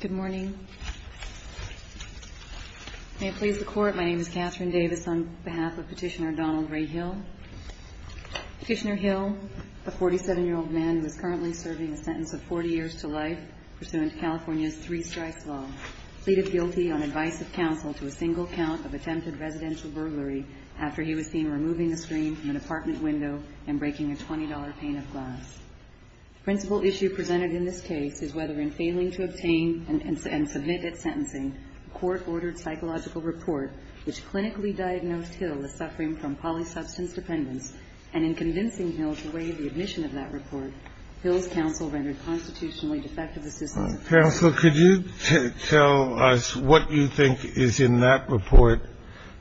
Good morning. May it please the Court, my name is Katherine Davis on behalf of Petitioner Donald Ray Hill. Petitioner Hill, a 47-year-old man who is currently serving a sentence of 40 years to life pursuant to California's three-strikes law, pleaded guilty on advice of counsel to a single count of attempted residential burglary after he was seen removing the screen from an apartment window and breaking a $20 pane of glass. The principal issue presented in this case is whether in failing to obtain and submit at sentencing, a court-ordered psychological report which clinically diagnosed Hill as suffering from polysubstance dependence, and in convincing Hill to waive the admission of that report, Hill's counsel rendered constitutionally defective assistance. Counsel, could you tell us what you think is in that report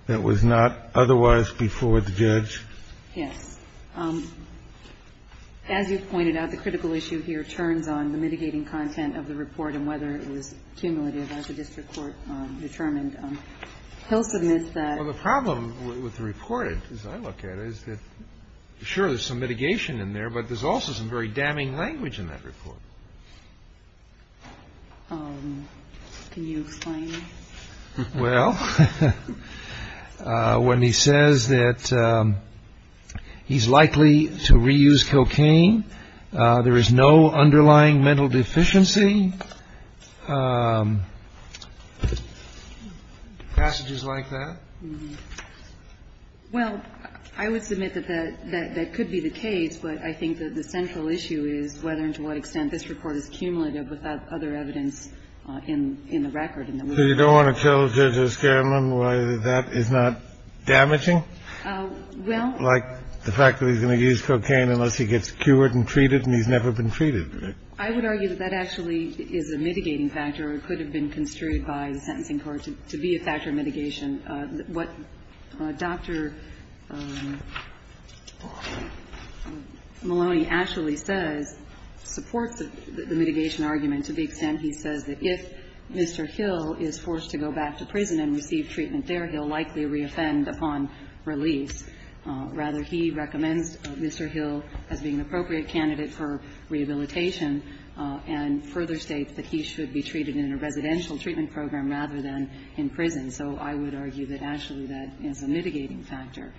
that was not otherwise before the judge? Yes. As you've pointed out, the critical issue here turns on the mitigating content of the report and whether it was cumulative, as the district court determined. Hill submits that. Well, the problem with the report, as I look at it, is that, sure, there's some mitigation in there, but there's also some very damning language in that report. Can you explain? Well, when he says that he's likely to reuse cocaine, there is no underlying mental deficiency, passages like that. Well, I would submit that that could be the case, but I think that the central issue is whether and to what extent this report is cumulative without other evidence in the record. So you don't want to tell Judge O'Scanlan why that is not damaging? Well — Like the fact that he's going to use cocaine unless he gets cured and treated, and he's never been treated. I would argue that that actually is a mitigating factor or could have been construed by the sentencing court to be a factor of mitigation. What Dr. Maloney actually says supports the mitigation argument to the extent he says that if Mr. Hill is forced to go back to prison and receive treatment there, he'll likely re-offend upon release. Rather, he recommends Mr. Hill as being an appropriate candidate for rehabilitation and further states that he should be treated in a residential treatment program rather than in prison. So I would argue that actually that is a mitigating factor.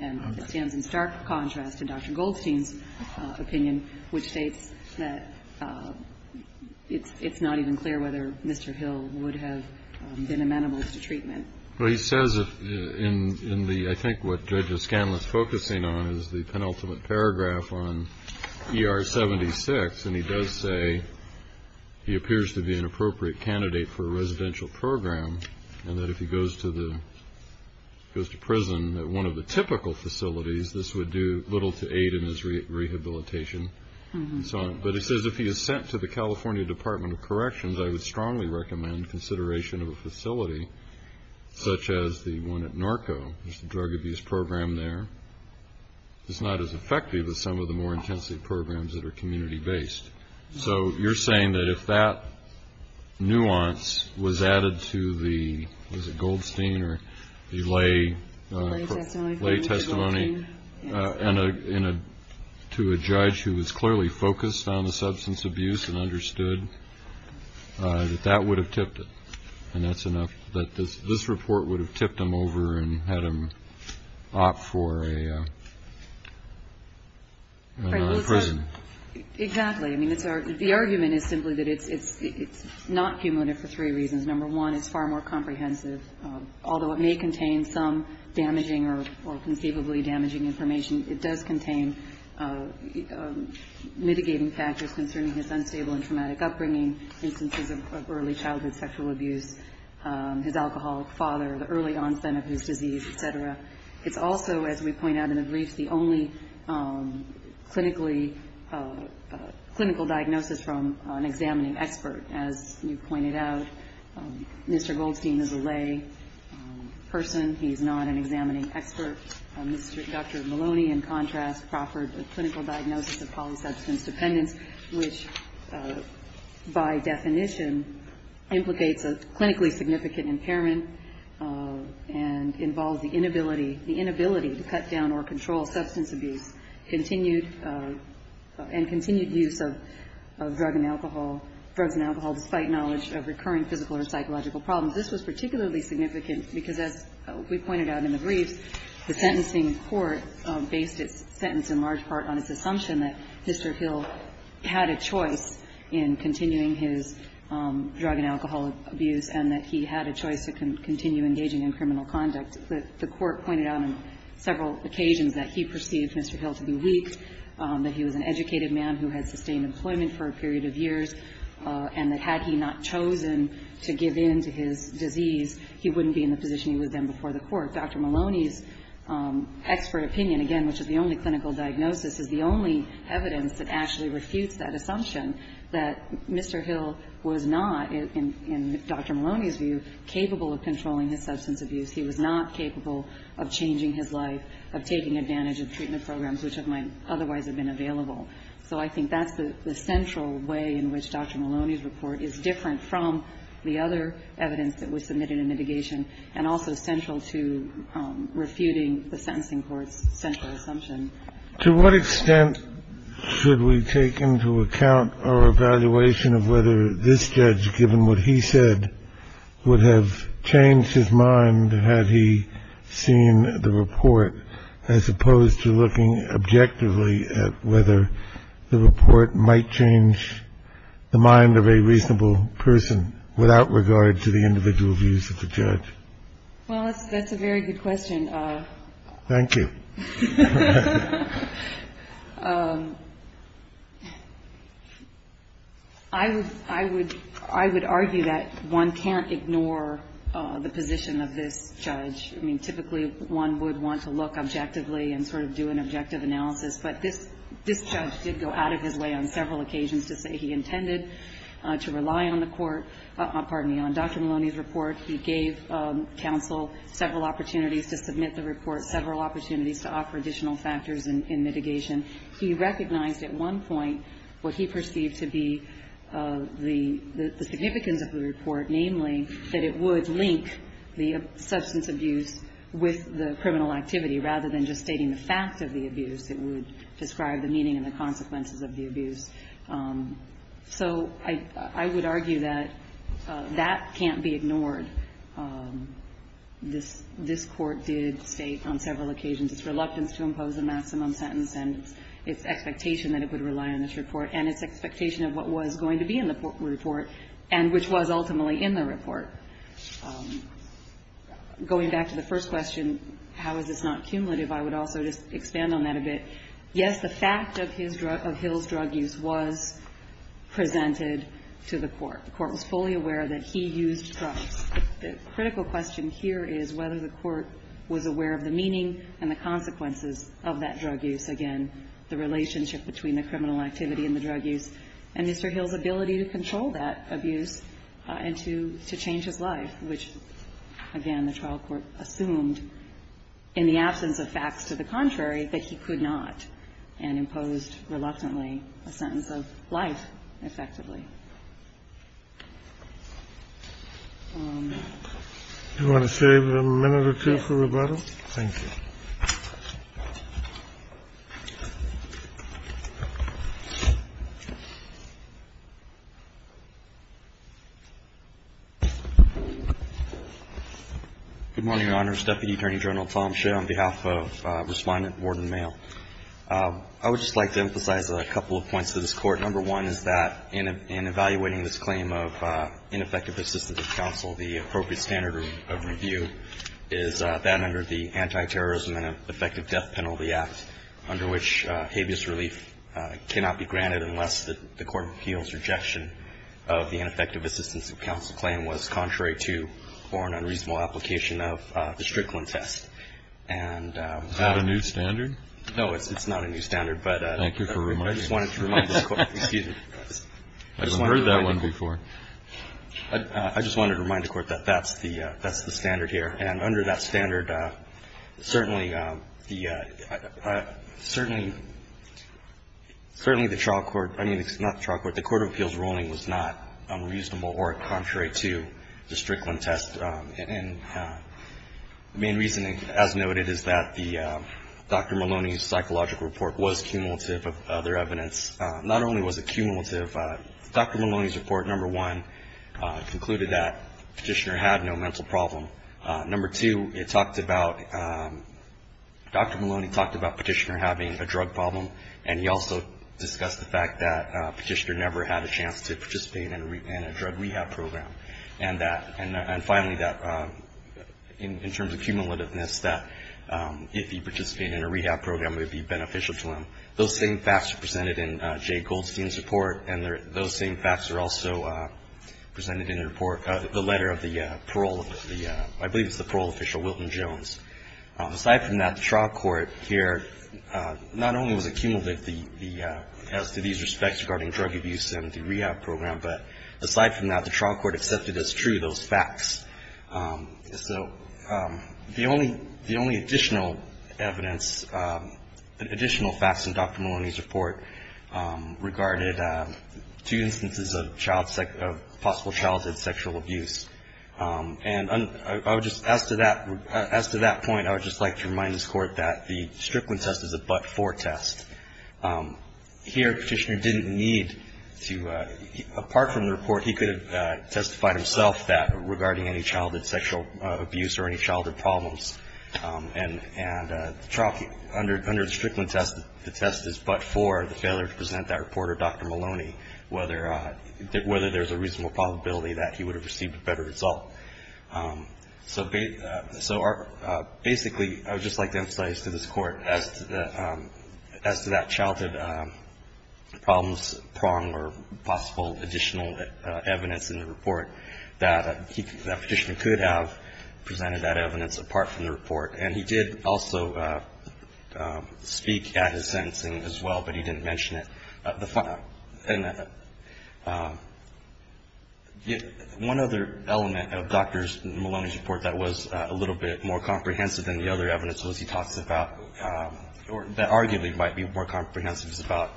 And it stands in stark contrast to Dr. Goldstein's opinion, which states that it's not even clear whether Mr. Hill would have been amenable to treatment. Well, he says in the — I think what Judge O'Scanlan is focusing on is the penultimate paragraph on ER-76, and he does say he appears to be an appropriate candidate for a residential program and that if he goes to the — goes to prison at one of the typical facilities, this would do little to aid in his rehabilitation and so on. But he says if he is sent to the California Department of Corrections, I would strongly recommend consideration of a facility such as the one at Narco, there's a drug abuse program there, it's not as effective as some of the more intensive programs that are community-based. So you're saying that if that nuance was added to the — was it Goldstein or the lay — The lay testimony. — lay testimony and to a judge who was clearly focused on the substance abuse and understood that that would have tipped it, and that's enough — that this report would have tipped him over and had him opt for a — a prison. Exactly. I mean, it's — the argument is simply that it's not cumulative for three reasons. Number one, it's far more comprehensive. Although it may contain some damaging or conceivably damaging information, it does contain mitigating factors concerning his unstable and traumatic upbringing, instances of early childhood sexual abuse, his alcoholic father, the early onset of his disease, et cetera. It's also, as we point out in the briefs, the only clinically — clinical diagnosis from an examining expert. As you pointed out, Mr. Goldstein is a lay person. He's not an examining expert. Mr. — Dr. Maloney, in contrast, proffered a clinical diagnosis of polysubstance dependence, which, by definition, implicates a clinically significant impairment and involves the inability — the inability to cut down or control substance abuse, continued — and continued use of — of drug and alcohol — drugs and alcohol despite knowledge of recurring physical or psychological problems. This was particularly significant because, as we pointed out in the briefs, the sentencing court based its sentence in large part on its assumption that Mr. Hill had a choice in continuing his drug and alcohol abuse and that he had a choice to continue engaging in criminal conduct. The court pointed out on several occasions that he perceived Mr. Hill to be weak, that he was an educated man who had sustained employment for a period of years, and that had he not chosen to give in to his disease, he wouldn't be in the position he is today. And the expert opinion, again, which is the only clinical diagnosis, is the only evidence that actually refutes that assumption, that Mr. Hill was not, in Dr. Maloney's view, capable of controlling his substance abuse. He was not capable of changing his life, of taking advantage of treatment programs which might otherwise have been available. So I think that's the central way in which Dr. Maloney's report is different from the other evidence that was submitted in litigation and also central to refuting the sentencing court's central assumption. To what extent should we take into account our evaluation of whether this judge, given what he said, would have changed his mind had he seen the report, as opposed to looking objectively at whether the report might change the mind of a reasonable person without regard to the individual views of the judge? Well, that's a very good question. Thank you. I would argue that one can't ignore the position of this judge. I mean, typically one would want to look objectively and sort of do an objective analysis, but this judge did go out of his way on several occasions to say he intended to rely on the court, pardon me, on Dr. Maloney's report. He gave counsel several opportunities to submit the report, several opportunities to offer additional factors in mitigation. He recognized at one point what he perceived to be the significance of the report, namely that it would link the substance abuse with the criminal activity rather than just stating the fact of the abuse. It would describe the meaning and the consequences of the abuse. So I would argue that that can't be ignored. This court did state on several occasions its reluctance to impose a maximum sentence and its expectation that it would rely on this report and its expectation of what was going to be in the report and which was ultimately in the report. Going back to the first question, how is this not cumulative, I would also just expand on that a bit. Yes, the fact of Hill's drug use was presented to the court. The court was fully aware that he used drugs. The critical question here is whether the court was aware of the meaning and the consequences of that drug use. Again, the relationship between the criminal activity and the drug use and Mr. Hill's ability to control that abuse and to change his life, which, again, the trial court assumed in the absence of facts to the contrary, that he could not and imposed reluctantly a sentence of life effectively. Do you want to save a minute or two for rebuttal? Thank you. Good morning, Your Honors. Deputy Attorney General Tom Schill on behalf of Respondent, Warden of the Mail. I would just like to emphasize a couple of points to this court. Number one is that in evaluating this claim of ineffective assistance of counsel, the appropriate standard of review is that under the Anti-Terrorist Act, under which habeas relief cannot be granted unless the court feels rejection of the ineffective assistance of counsel claim was contrary to or an unreasonable application of the Strickland test. Is that a new standard? No, it's not a new standard. Thank you for reminding me. I just wanted to remind the court. I haven't heard that one before. I just wanted to remind the court that that's the standard here. And under that standard, certainly the trial court, I mean, it's not the trial court, the court of appeals ruling was not unreasonable or contrary to the Strickland test. And the main reason, as noted, is that Dr. Maloney's psychological report was cumulative of other evidence. Not only was it cumulative, Dr. Maloney's report, number one, concluded that Petitioner had no mental problem. Number two, it talked about, Dr. Maloney talked about Petitioner having a drug problem and he also discussed the fact that Petitioner never had a chance to participate in a drug rehab program. And that, and finally, that in terms of cumulativeness, that if he participated in a rehab program, it would be beneficial to him. Those same facts are presented in Jay Goldstein's report and those same facts are also presented in the report, the letter of the parole, I believe it's the parole official, Wilton Jones. Aside from that, the trial court here, not only was it cumulative as to these respects regarding drug abuse and the rehab program, but aside from that, the trial court accepted as true those facts. So the only additional evidence, additional facts in Dr. Maloney's report regarded two instances of child, of possible childhood sexual abuse. And I would just, as to that, as to that point, I would just like to remind this Court that the Strickland test is a but-for test. Here, Petitioner didn't need to, apart from the report, he could have testified himself that regarding any childhood sexual abuse or any childhood problems. And the trial, under the Strickland test, the test is but-for, the failure to present that report to Dr. Maloney, whether there's a reasonable probability that he would have received a better result. So basically, I would just like to emphasize to this Court as to that childhood problems prong or possible additional evidence in the report that Petitioner could have presented that evidence apart from the report. And he did also speak at his sentencing as well, but he didn't mention it. One other element of Dr. Maloney's report that was a little bit more comprehensive than the other evidence was he talks about, that arguably might be more comprehensive, is about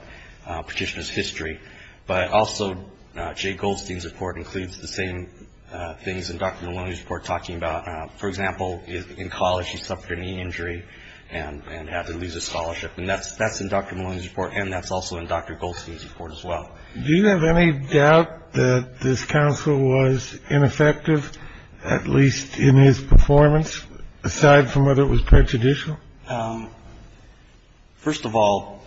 Petitioner's history. But also, Jay Goldstein's report includes the same things that Dr. Maloney's report is talking about. For example, in college, he suffered a knee injury and had to lose his scholarship. And that's in Dr. Maloney's report, and that's also in Dr. Goldstein's report as well. Do you have any doubt that this counsel was ineffective, at least in his performance, aside from whether it was prejudicial? First of all,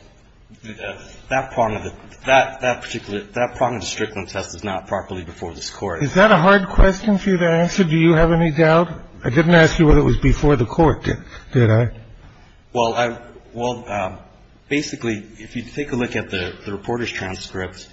that prong of the Strickland test is not properly before this Court. Is that a hard question for you to answer? Do you have any doubt? I didn't ask you whether it was before the Court, did I? Well, basically, if you take a look at the reporter's transcripts,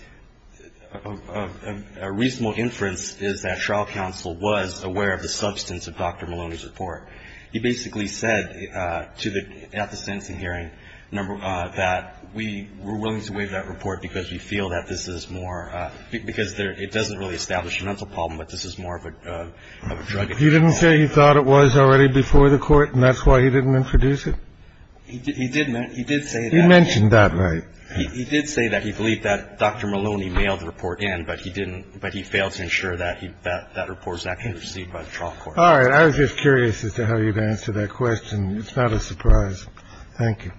a reasonable inference is that trial counsel was aware of the substance of Dr. Maloney's report. He basically said at the sentencing hearing that we were willing to waive that report because we feel that this is more – because it doesn't really establish a mental problem, but this is more of a drug-infused problem. He didn't say he thought it was already before the Court, and that's why he didn't introduce it? He did say that. He mentioned that, right? He did say that. He believed that Dr. Maloney mailed the report in, but he failed to ensure that that report was actually received by the trial court. All right. I was just curious as to how you'd answer that question. It's not a surprise. Thank you.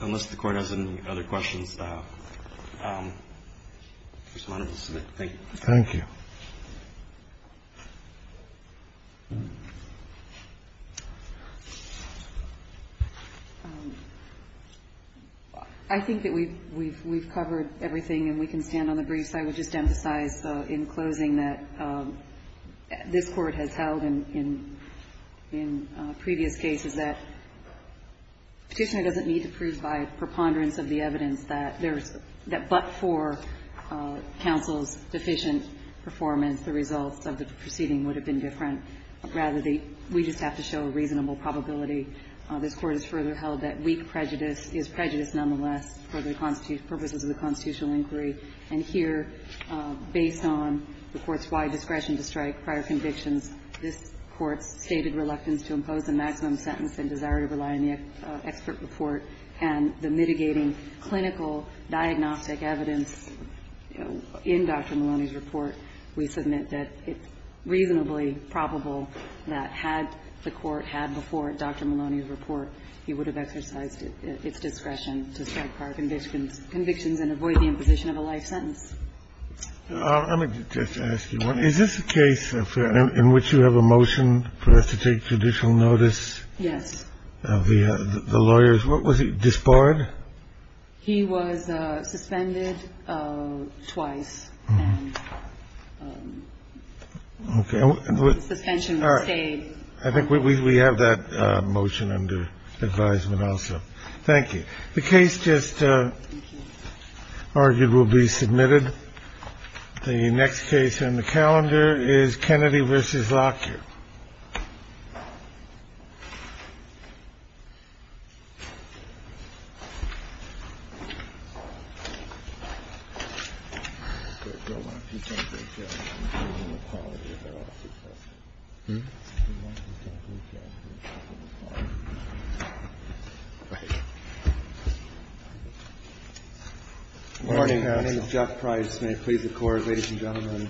Unless the Court has any other questions, I just wanted to submit thank you. Thank you. I think that we've covered everything, and we can stand on the briefs. I would just emphasize in closing that this Court has held in previous cases that Petitioner doesn't need to prove by preponderance of the evidence that there's – that but for counsel's deficient performance, the results of the proceeding would have been different. Rather, we just have to show a reasonable probability. This Court has further held that weak prejudice is prejudice nonetheless for the purposes of the constitutional inquiry. And here, based on the Court's wide discretion to strike prior convictions, this Court's stated reluctance to impose a maximum sentence and desire to rely on the expert report and the mitigating clinical diagnostic evidence in Dr. Maloney's report, we submit that it's reasonably probable that had the Court had before Dr. Maloney's report, he would have exercised its discretion to strike prior convictions and avoid the imposition of a life sentence. Let me just ask you one. Is this a case in which you have a motion for us to take judicial notice? Yes. Of the lawyers. Was he disbarred? He was suspended twice. Okay. Suspension was stayed. I think we have that motion under advisement also. Thank you. The case just argued will be submitted. The next case on the calendar is Kennedy v. Lockyer. Good morning. My name is Jeff Price. May it please the Court, ladies and gentlemen.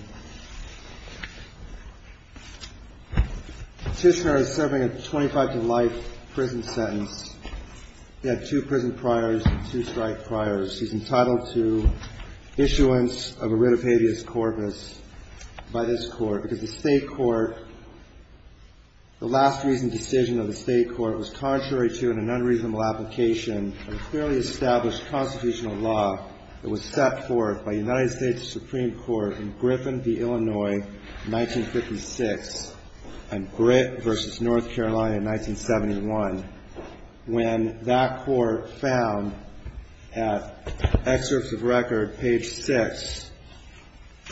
Tishler is serving a 25-to-life prison sentence. He had two prison priors and two strike priors. He's entitled to issuance of a writ of habeas corpus by this Court because the State Court, the last reasoned decision of the State Court was contrary to an unreasonable application of a clearly established constitutional law that was set forth by the United States Supreme Court in Griffin v. Illinois, 1956, and Britt v. North Carolina in 1971 when that Court found at excerpts of record, page 6,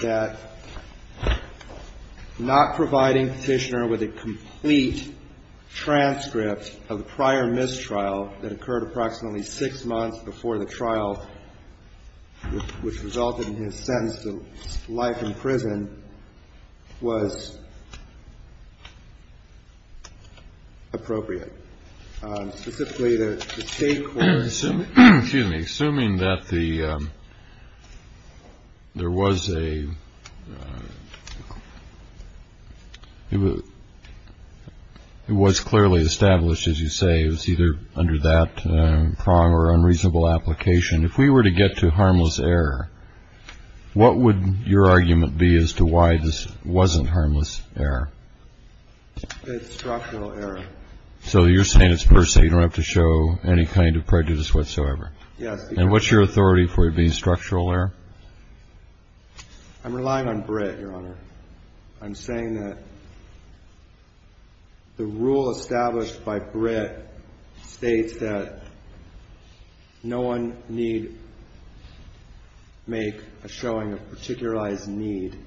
that not providing Tishler with a complete transcript of the prior mistrial that occurred approximately six months before the trial, which resulted in his sentence of life in prison, was appropriate. Specifically, the State Court... Excuse me. Assuming that there was a... It was clearly established, as you say, it was either under that prong or unreasonable application. If we were to get to harmless error, what would your argument be as to why this wasn't harmless error? It's structural error. So you're saying it's per se, you don't have to show any kind of prejudice whatsoever. Yes. And what's your authority for it being structural error? I'm relying on Britt, Your Honor. I'm saying that the rule established by Britt states that no one need make a showing of particularized need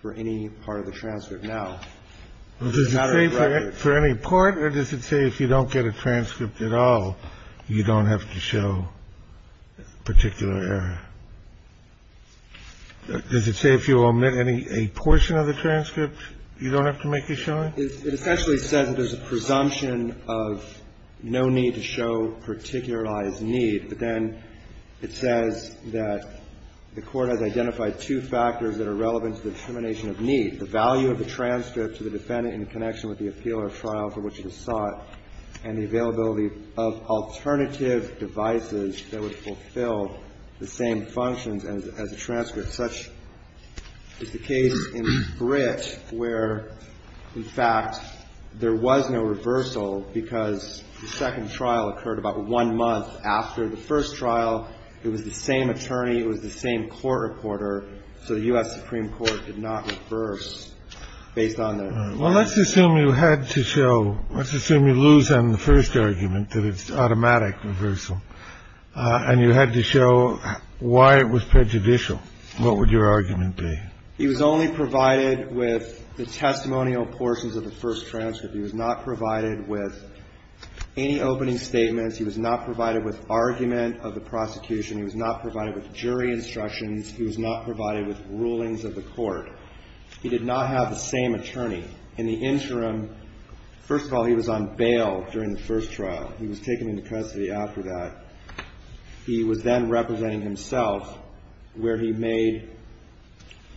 for any part of the transcript. Now... Does it say for any part, or does it say if you don't get a transcript at all, you don't have to show particular error? Does it say if you omit a portion of the transcript, you don't have to make a showing? It essentially says that there's a presumption of no need to show particularized need. But then it says that the Court has identified two factors that are relevant to the determination of need. The value of the transcript to the defendant in connection with the appeal or trial for which it was sought and the availability of alternative devices that would fulfill the same functions as a transcript. Such is the case in Britt, where, in fact, there was no reversal because the second trial occurred about one month after the first trial. It was the same attorney. It was the same court reporter. So the U.S. Supreme Court did not reverse based on their... Well, let's assume you had to show... Let's assume you lose on the first argument, that it's automatic reversal, and you had to show why it was prejudicial. What would your argument be? He was only provided with the testimonial portions of the first transcript. He was not provided with any opening statements. He was not provided with argument of the prosecution. He was not provided with jury instructions. He was not provided with rulings of the Court. He did not have the same attorney. In the interim, first of all, he was on bail during the first trial. He was taken into custody after that. He was then representing himself where he made...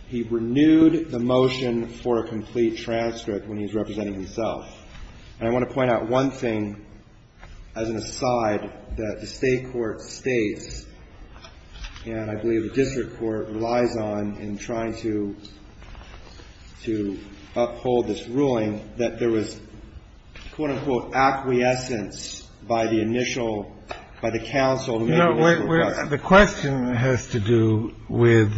He renewed the motion for a complete transcript when he was representing himself. And I want to point out one thing as an aside that the State court states, and I believe the district court relies on in trying to uphold this ruling, that there was, quote-unquote, acquiescence by the initial... by the counsel... to do with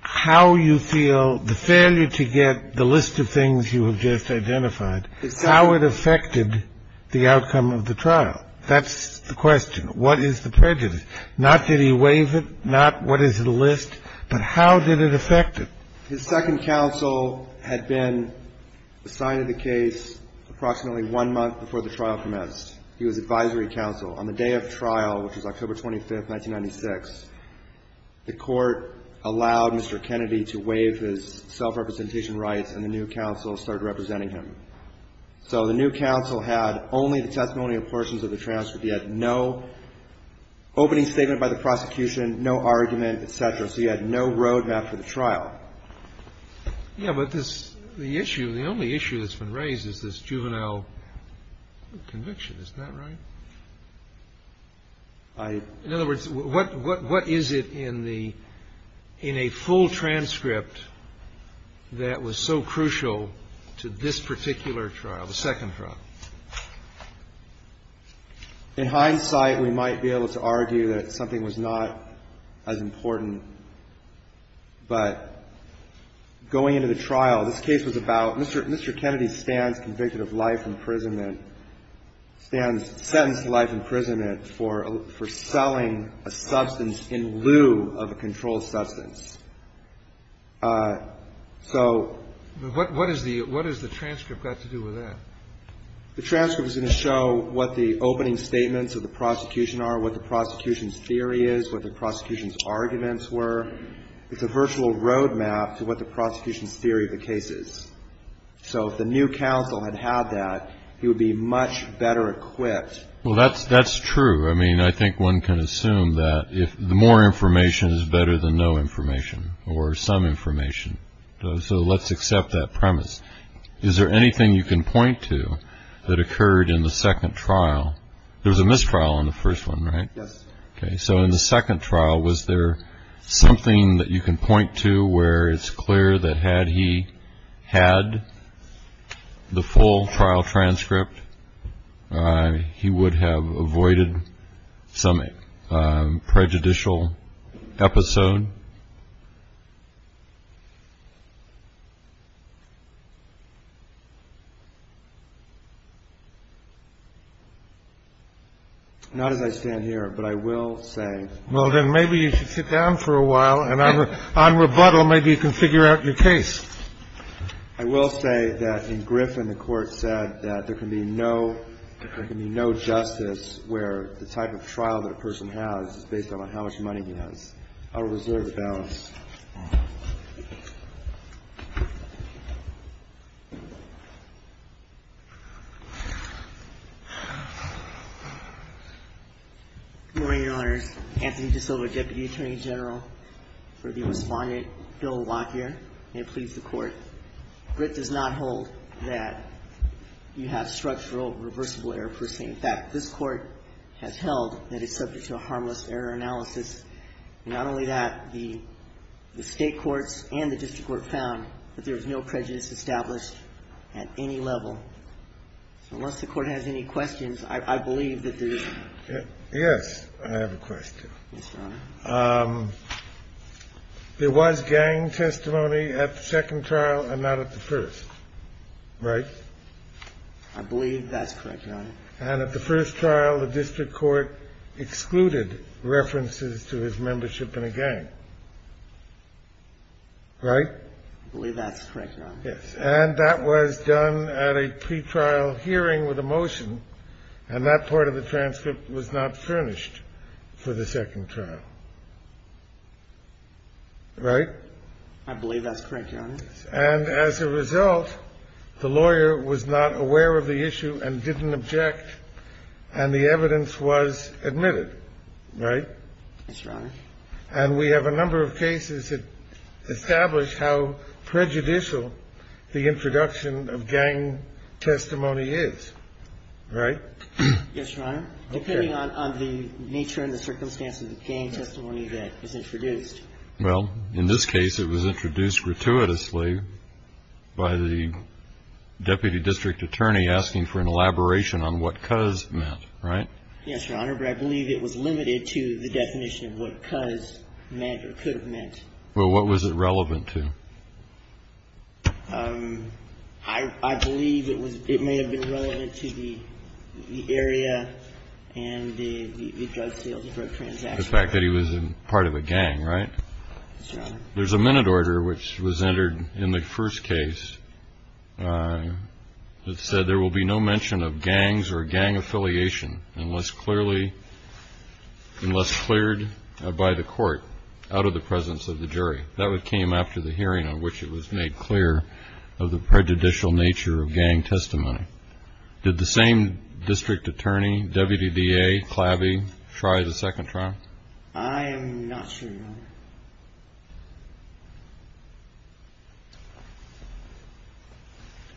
how you feel the failure to get the list of things you have just identified, how it affected the outcome of the trial. That's the question. What is the prejudice? Not did he waive it, not what is the list, but how did it affect it? His second counsel had been assigned to the case approximately one month before the trial commenced. He was advisory counsel. On the day of trial, which was October 25, 1996, the court allowed Mr. Kennedy to waive his self-representation rights and the new counsel started representing him. So the new counsel had only the testimonial portions of the transcript. He had no opening statement by the prosecution, no argument, etc. So he had no roadmap for the trial. Yeah, but this... The issue... The only issue that's been raised is this juvenile conviction. Isn't that right? I... In other words, what is it in the... In a full transcript that was so crucial to this particular trial, the second trial? In hindsight, we might be able to argue that something was not as important, but going into the trial, this case was about... Mr. Kennedy stands convicted of life imprisonment, stands sentenced to life imprisonment for selling a substance in lieu of a controlled substance. So... What has the transcript got to do with that? The transcript is going to show what the opening statements of the prosecution are, what the prosecution's theory is, what the prosecution's arguments were. It's a virtual roadmap to what the prosecution's theory of the case is. So if the new counsel had had that, he would be much better equipped... Well, that's true. I mean, I think one can assume that more information is better than no information or some information. So let's accept that premise. Is there anything you can point to that occurred in the second trial? There was a mistrial on the first one, right? Yes. So in the second trial, was there something that you can point to where it's clear that had he had the full trial transcript, he would have avoided some prejudicial episode? Not as I stand here, but I will say... Well, then maybe you should sit down for a while and on rebuttal, maybe you can figure out your case. I will say that in Griffin, the court said that there can be no... There can be no justice where the type of trial that a person has is based on how much money he has. I'll reserve the balance. Good morning, Your Honors. Anthony DeSilva, Deputy Attorney General. For the respondent, Bill Lockyer. May it please the Court. Grit does not hold that you have structural reversible error per se. In fact, this Court has held that it's subject to a harmless error analysis. Not only that, the state courts and the district court found that there was no prejudice established at any level. So unless the Court has any questions, I believe that there is... Yes, I have a question. Yes, Your Honor. There was gang testimony at the second trial and not at the first. Right? I believe that's correct, Your Honor. And at the first trial, the district court excluded references to his membership in a gang. Right? I believe that's correct, Your Honor. Yes. And that was done at a pretrial hearing with a motion and that part of the transcript was not furnished for the second trial. Right? I believe that's correct, Your Honor. And as a result, the lawyer was not aware of the issue and didn't object and the evidence was admitted. Right? Yes, Your Honor. And we have a number of cases that establish how prejudicial the introduction of gang testimony is. Right? Yes, Your Honor. Okay. Depending on the nature and the circumstance of the gang testimony that is introduced. Well, in this case, it was introduced gratuitously by the deputy district attorney asking for an elaboration on what "'cause' meant. Right? Yes, Your Honor. But I believe it was limited to the definition of what "'cause' meant or could have meant. Well, what was it relevant to? I believe it was it may have been relevant to the area and the drug sales and drug transactions. The fact that he was part of a gang. Right? Yes, Your Honor. There's a minute order which was entered in the first case that said there will be no mention of gangs or gang affiliation unless clearly unless cleared by the court out of the presence of the jury. That came after the hearing on which it was made clear of the prejudicial nature of gang testimony. Did the same district attorney W.D.D.A. Clavy try the second trial? I am not sure, Your Honor.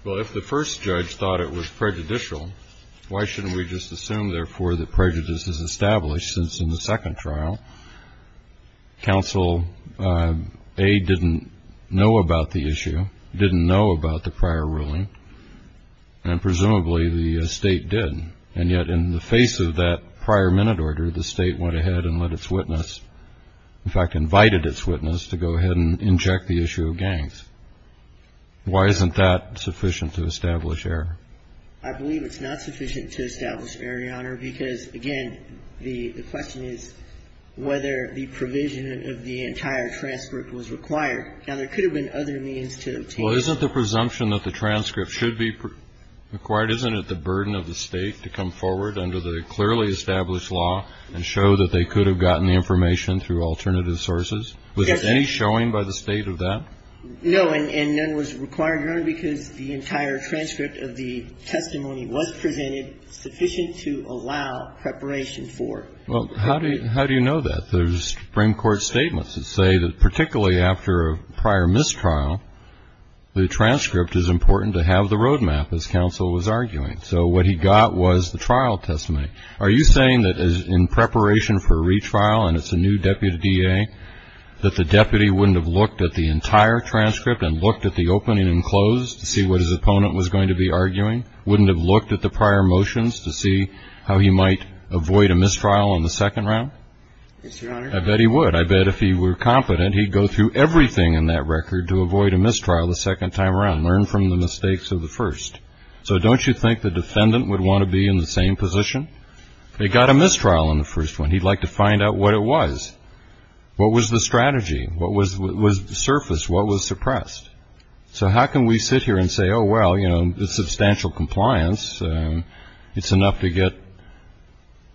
Well, if the first judge thought it was prejudicial why shouldn't we just assume therefore that prejudice is established since in the second trial counsel A. didn't know about the issue didn't know about the prior ruling and presumably the state did and yet in the face of that prior minute order the state went ahead and let its witness in fact invited its witness to go ahead and inject the issue of gangs. Why isn't that sufficient to establish error? I believe it's not sufficient to establish error, Your Honor because again the question is whether the provision of the entire transcript was required. Now there could have been other means to obtain Well isn't the presumption that the transcript should be required isn't it the burden of the state to come forward under the clearly established law and show that they could have gotten the information through alternative sources was there any showing by the state of that? No and none was required Your Honor because the entire transcript of the testimony was presented sufficient to allow preparation for it. Well how do you how do you know that? There's Supreme Court statements that say that particularly after a prior missed trial the transcript is important to have the road map as counsel was arguing so what he got was the trial testimony. Are you saying that in preparation for retrial and it's a new deputy DA that the deputy wouldn't have looked at the entire transcript and looked at the opening and close to see what his opponent was going to be arguing wouldn't have looked at the prior motions to see how he might avoid a missed trial on the second round? Yes Your Honor I bet he would I bet if he were confident he'd go through everything in that record to avoid a missed trial the second time around learn from the mistakes of the first. So don't you think the defendant would want to be in the same position? They got a missed trial on the first one he'd like to find out what it was what was the strategy what was surfaced what was suppressed so how can we sit here and say oh well you know the substantial compliance it's enough to get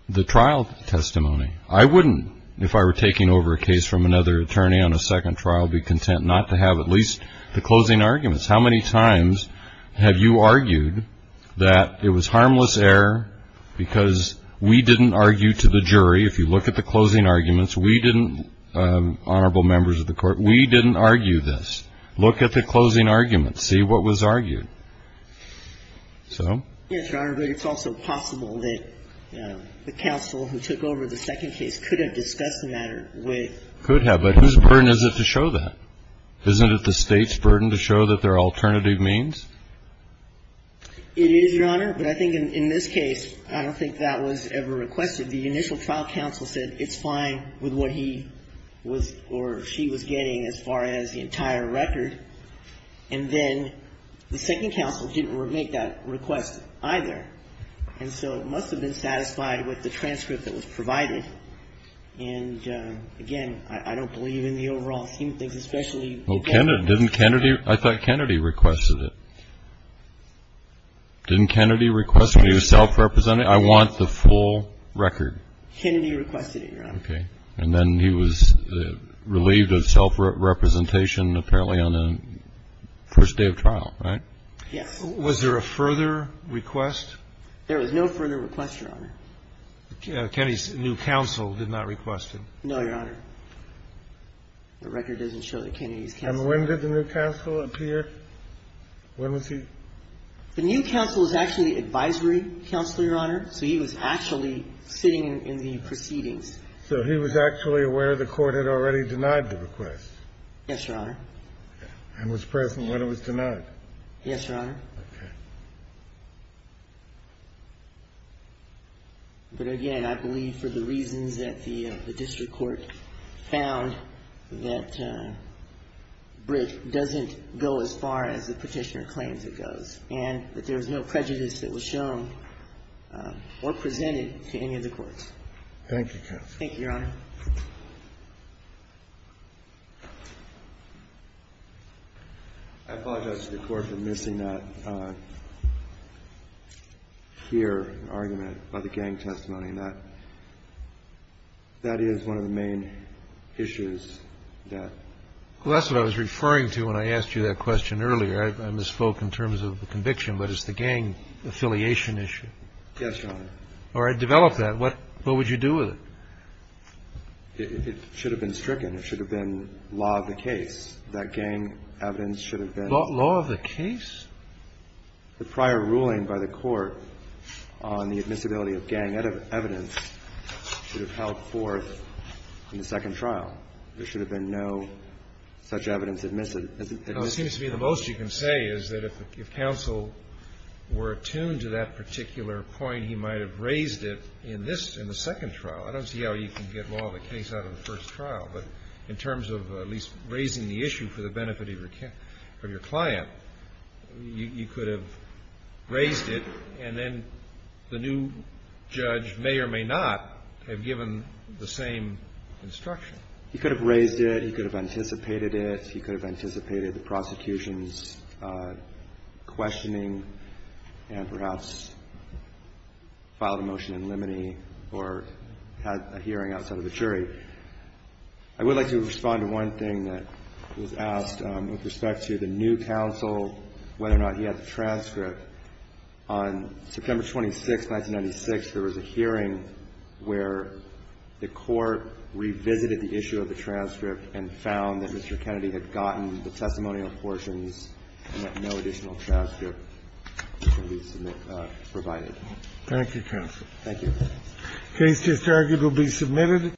the trial testimony I wouldn't if I were taking from another attorney on a second trial be content not to have at least the closing arguments how many times have you argued that it was harmless error because it was because we didn't argue to the jury if you look at the closing arguments we didn't honorable members of the court we didn't argue this look at the closing arguments see what was argued so yes your honor but it's also possible that the counsel who took over the second case could have discussed the matter with could have but whose burden is it to show that isn't it the state's burden to show that there are alternative means it is your honor but I think in this case I don't think that was ever requested the initial trial counsel said it's fine with what he was or she was getting as far as the entire record and then the second counsel didn't make that request either and so it must have been satisfied with the transcript that was provided and again I don't believe in the overall human things especially I thought Kennedy requested it didn't Kennedy request it he was self-represented I want the full record Kennedy requested it your honor and then he was relieved of self-representation apparently on the first day of trial right yes was there a further request there was no further request your honor Kennedy's new counsel did not request it no your honor the record doesn't show that Kennedy's counsel and when did the new counsel appear when was he the new counsel was actually advisory counsel your honor so he was actually sitting in the proceedings so he was actually aware the court had already denied the request yes your honor and was present when it was denied yes your honor okay but again I believe for the reasons that the district court found that bridge doesn't go as far as the petitioner claims it goes and that there was no prejudice that was shown or presented to any of the courts thank you counsel thank you your honor I apologize to the court for missing that here argument by the gang testimony that that is one of the main issues that that's what I was referring to when I asked you that question earlier I misspoke in terms of the conviction but it's the gang affiliation issue yes your honor or I developed that what what would you do with it it should have been stricken it should have been law of the case that gang evidence should have been law of the case the prior ruling by the court on the admissibility of gang evidence should have held forth in the second trial there should have been no such evidence admitted it seems to be the most you can say is that if counsel were attuned to that particular point he might have raised it in this in the second trial I don't see how you can get law of the case out of the first trial but in terms of at least raising the issue for the benefit of your client you could have raised it and then the new judge may or may not have given the same instruction he could have raised it he could have anticipated it he could have anticipated the prosecution's questioning and perhaps filed a motion in limine or had a hearing outside of the jury I would like to respond to one thing that was asked with respect to the new counsel whether or not he had the transcript on the hearing where the court revisited the issue of the transcript and found that Mr. Kennedy had gotten the testimonial portions and that no additional transcript could be provided thank you counsel thank you case just argued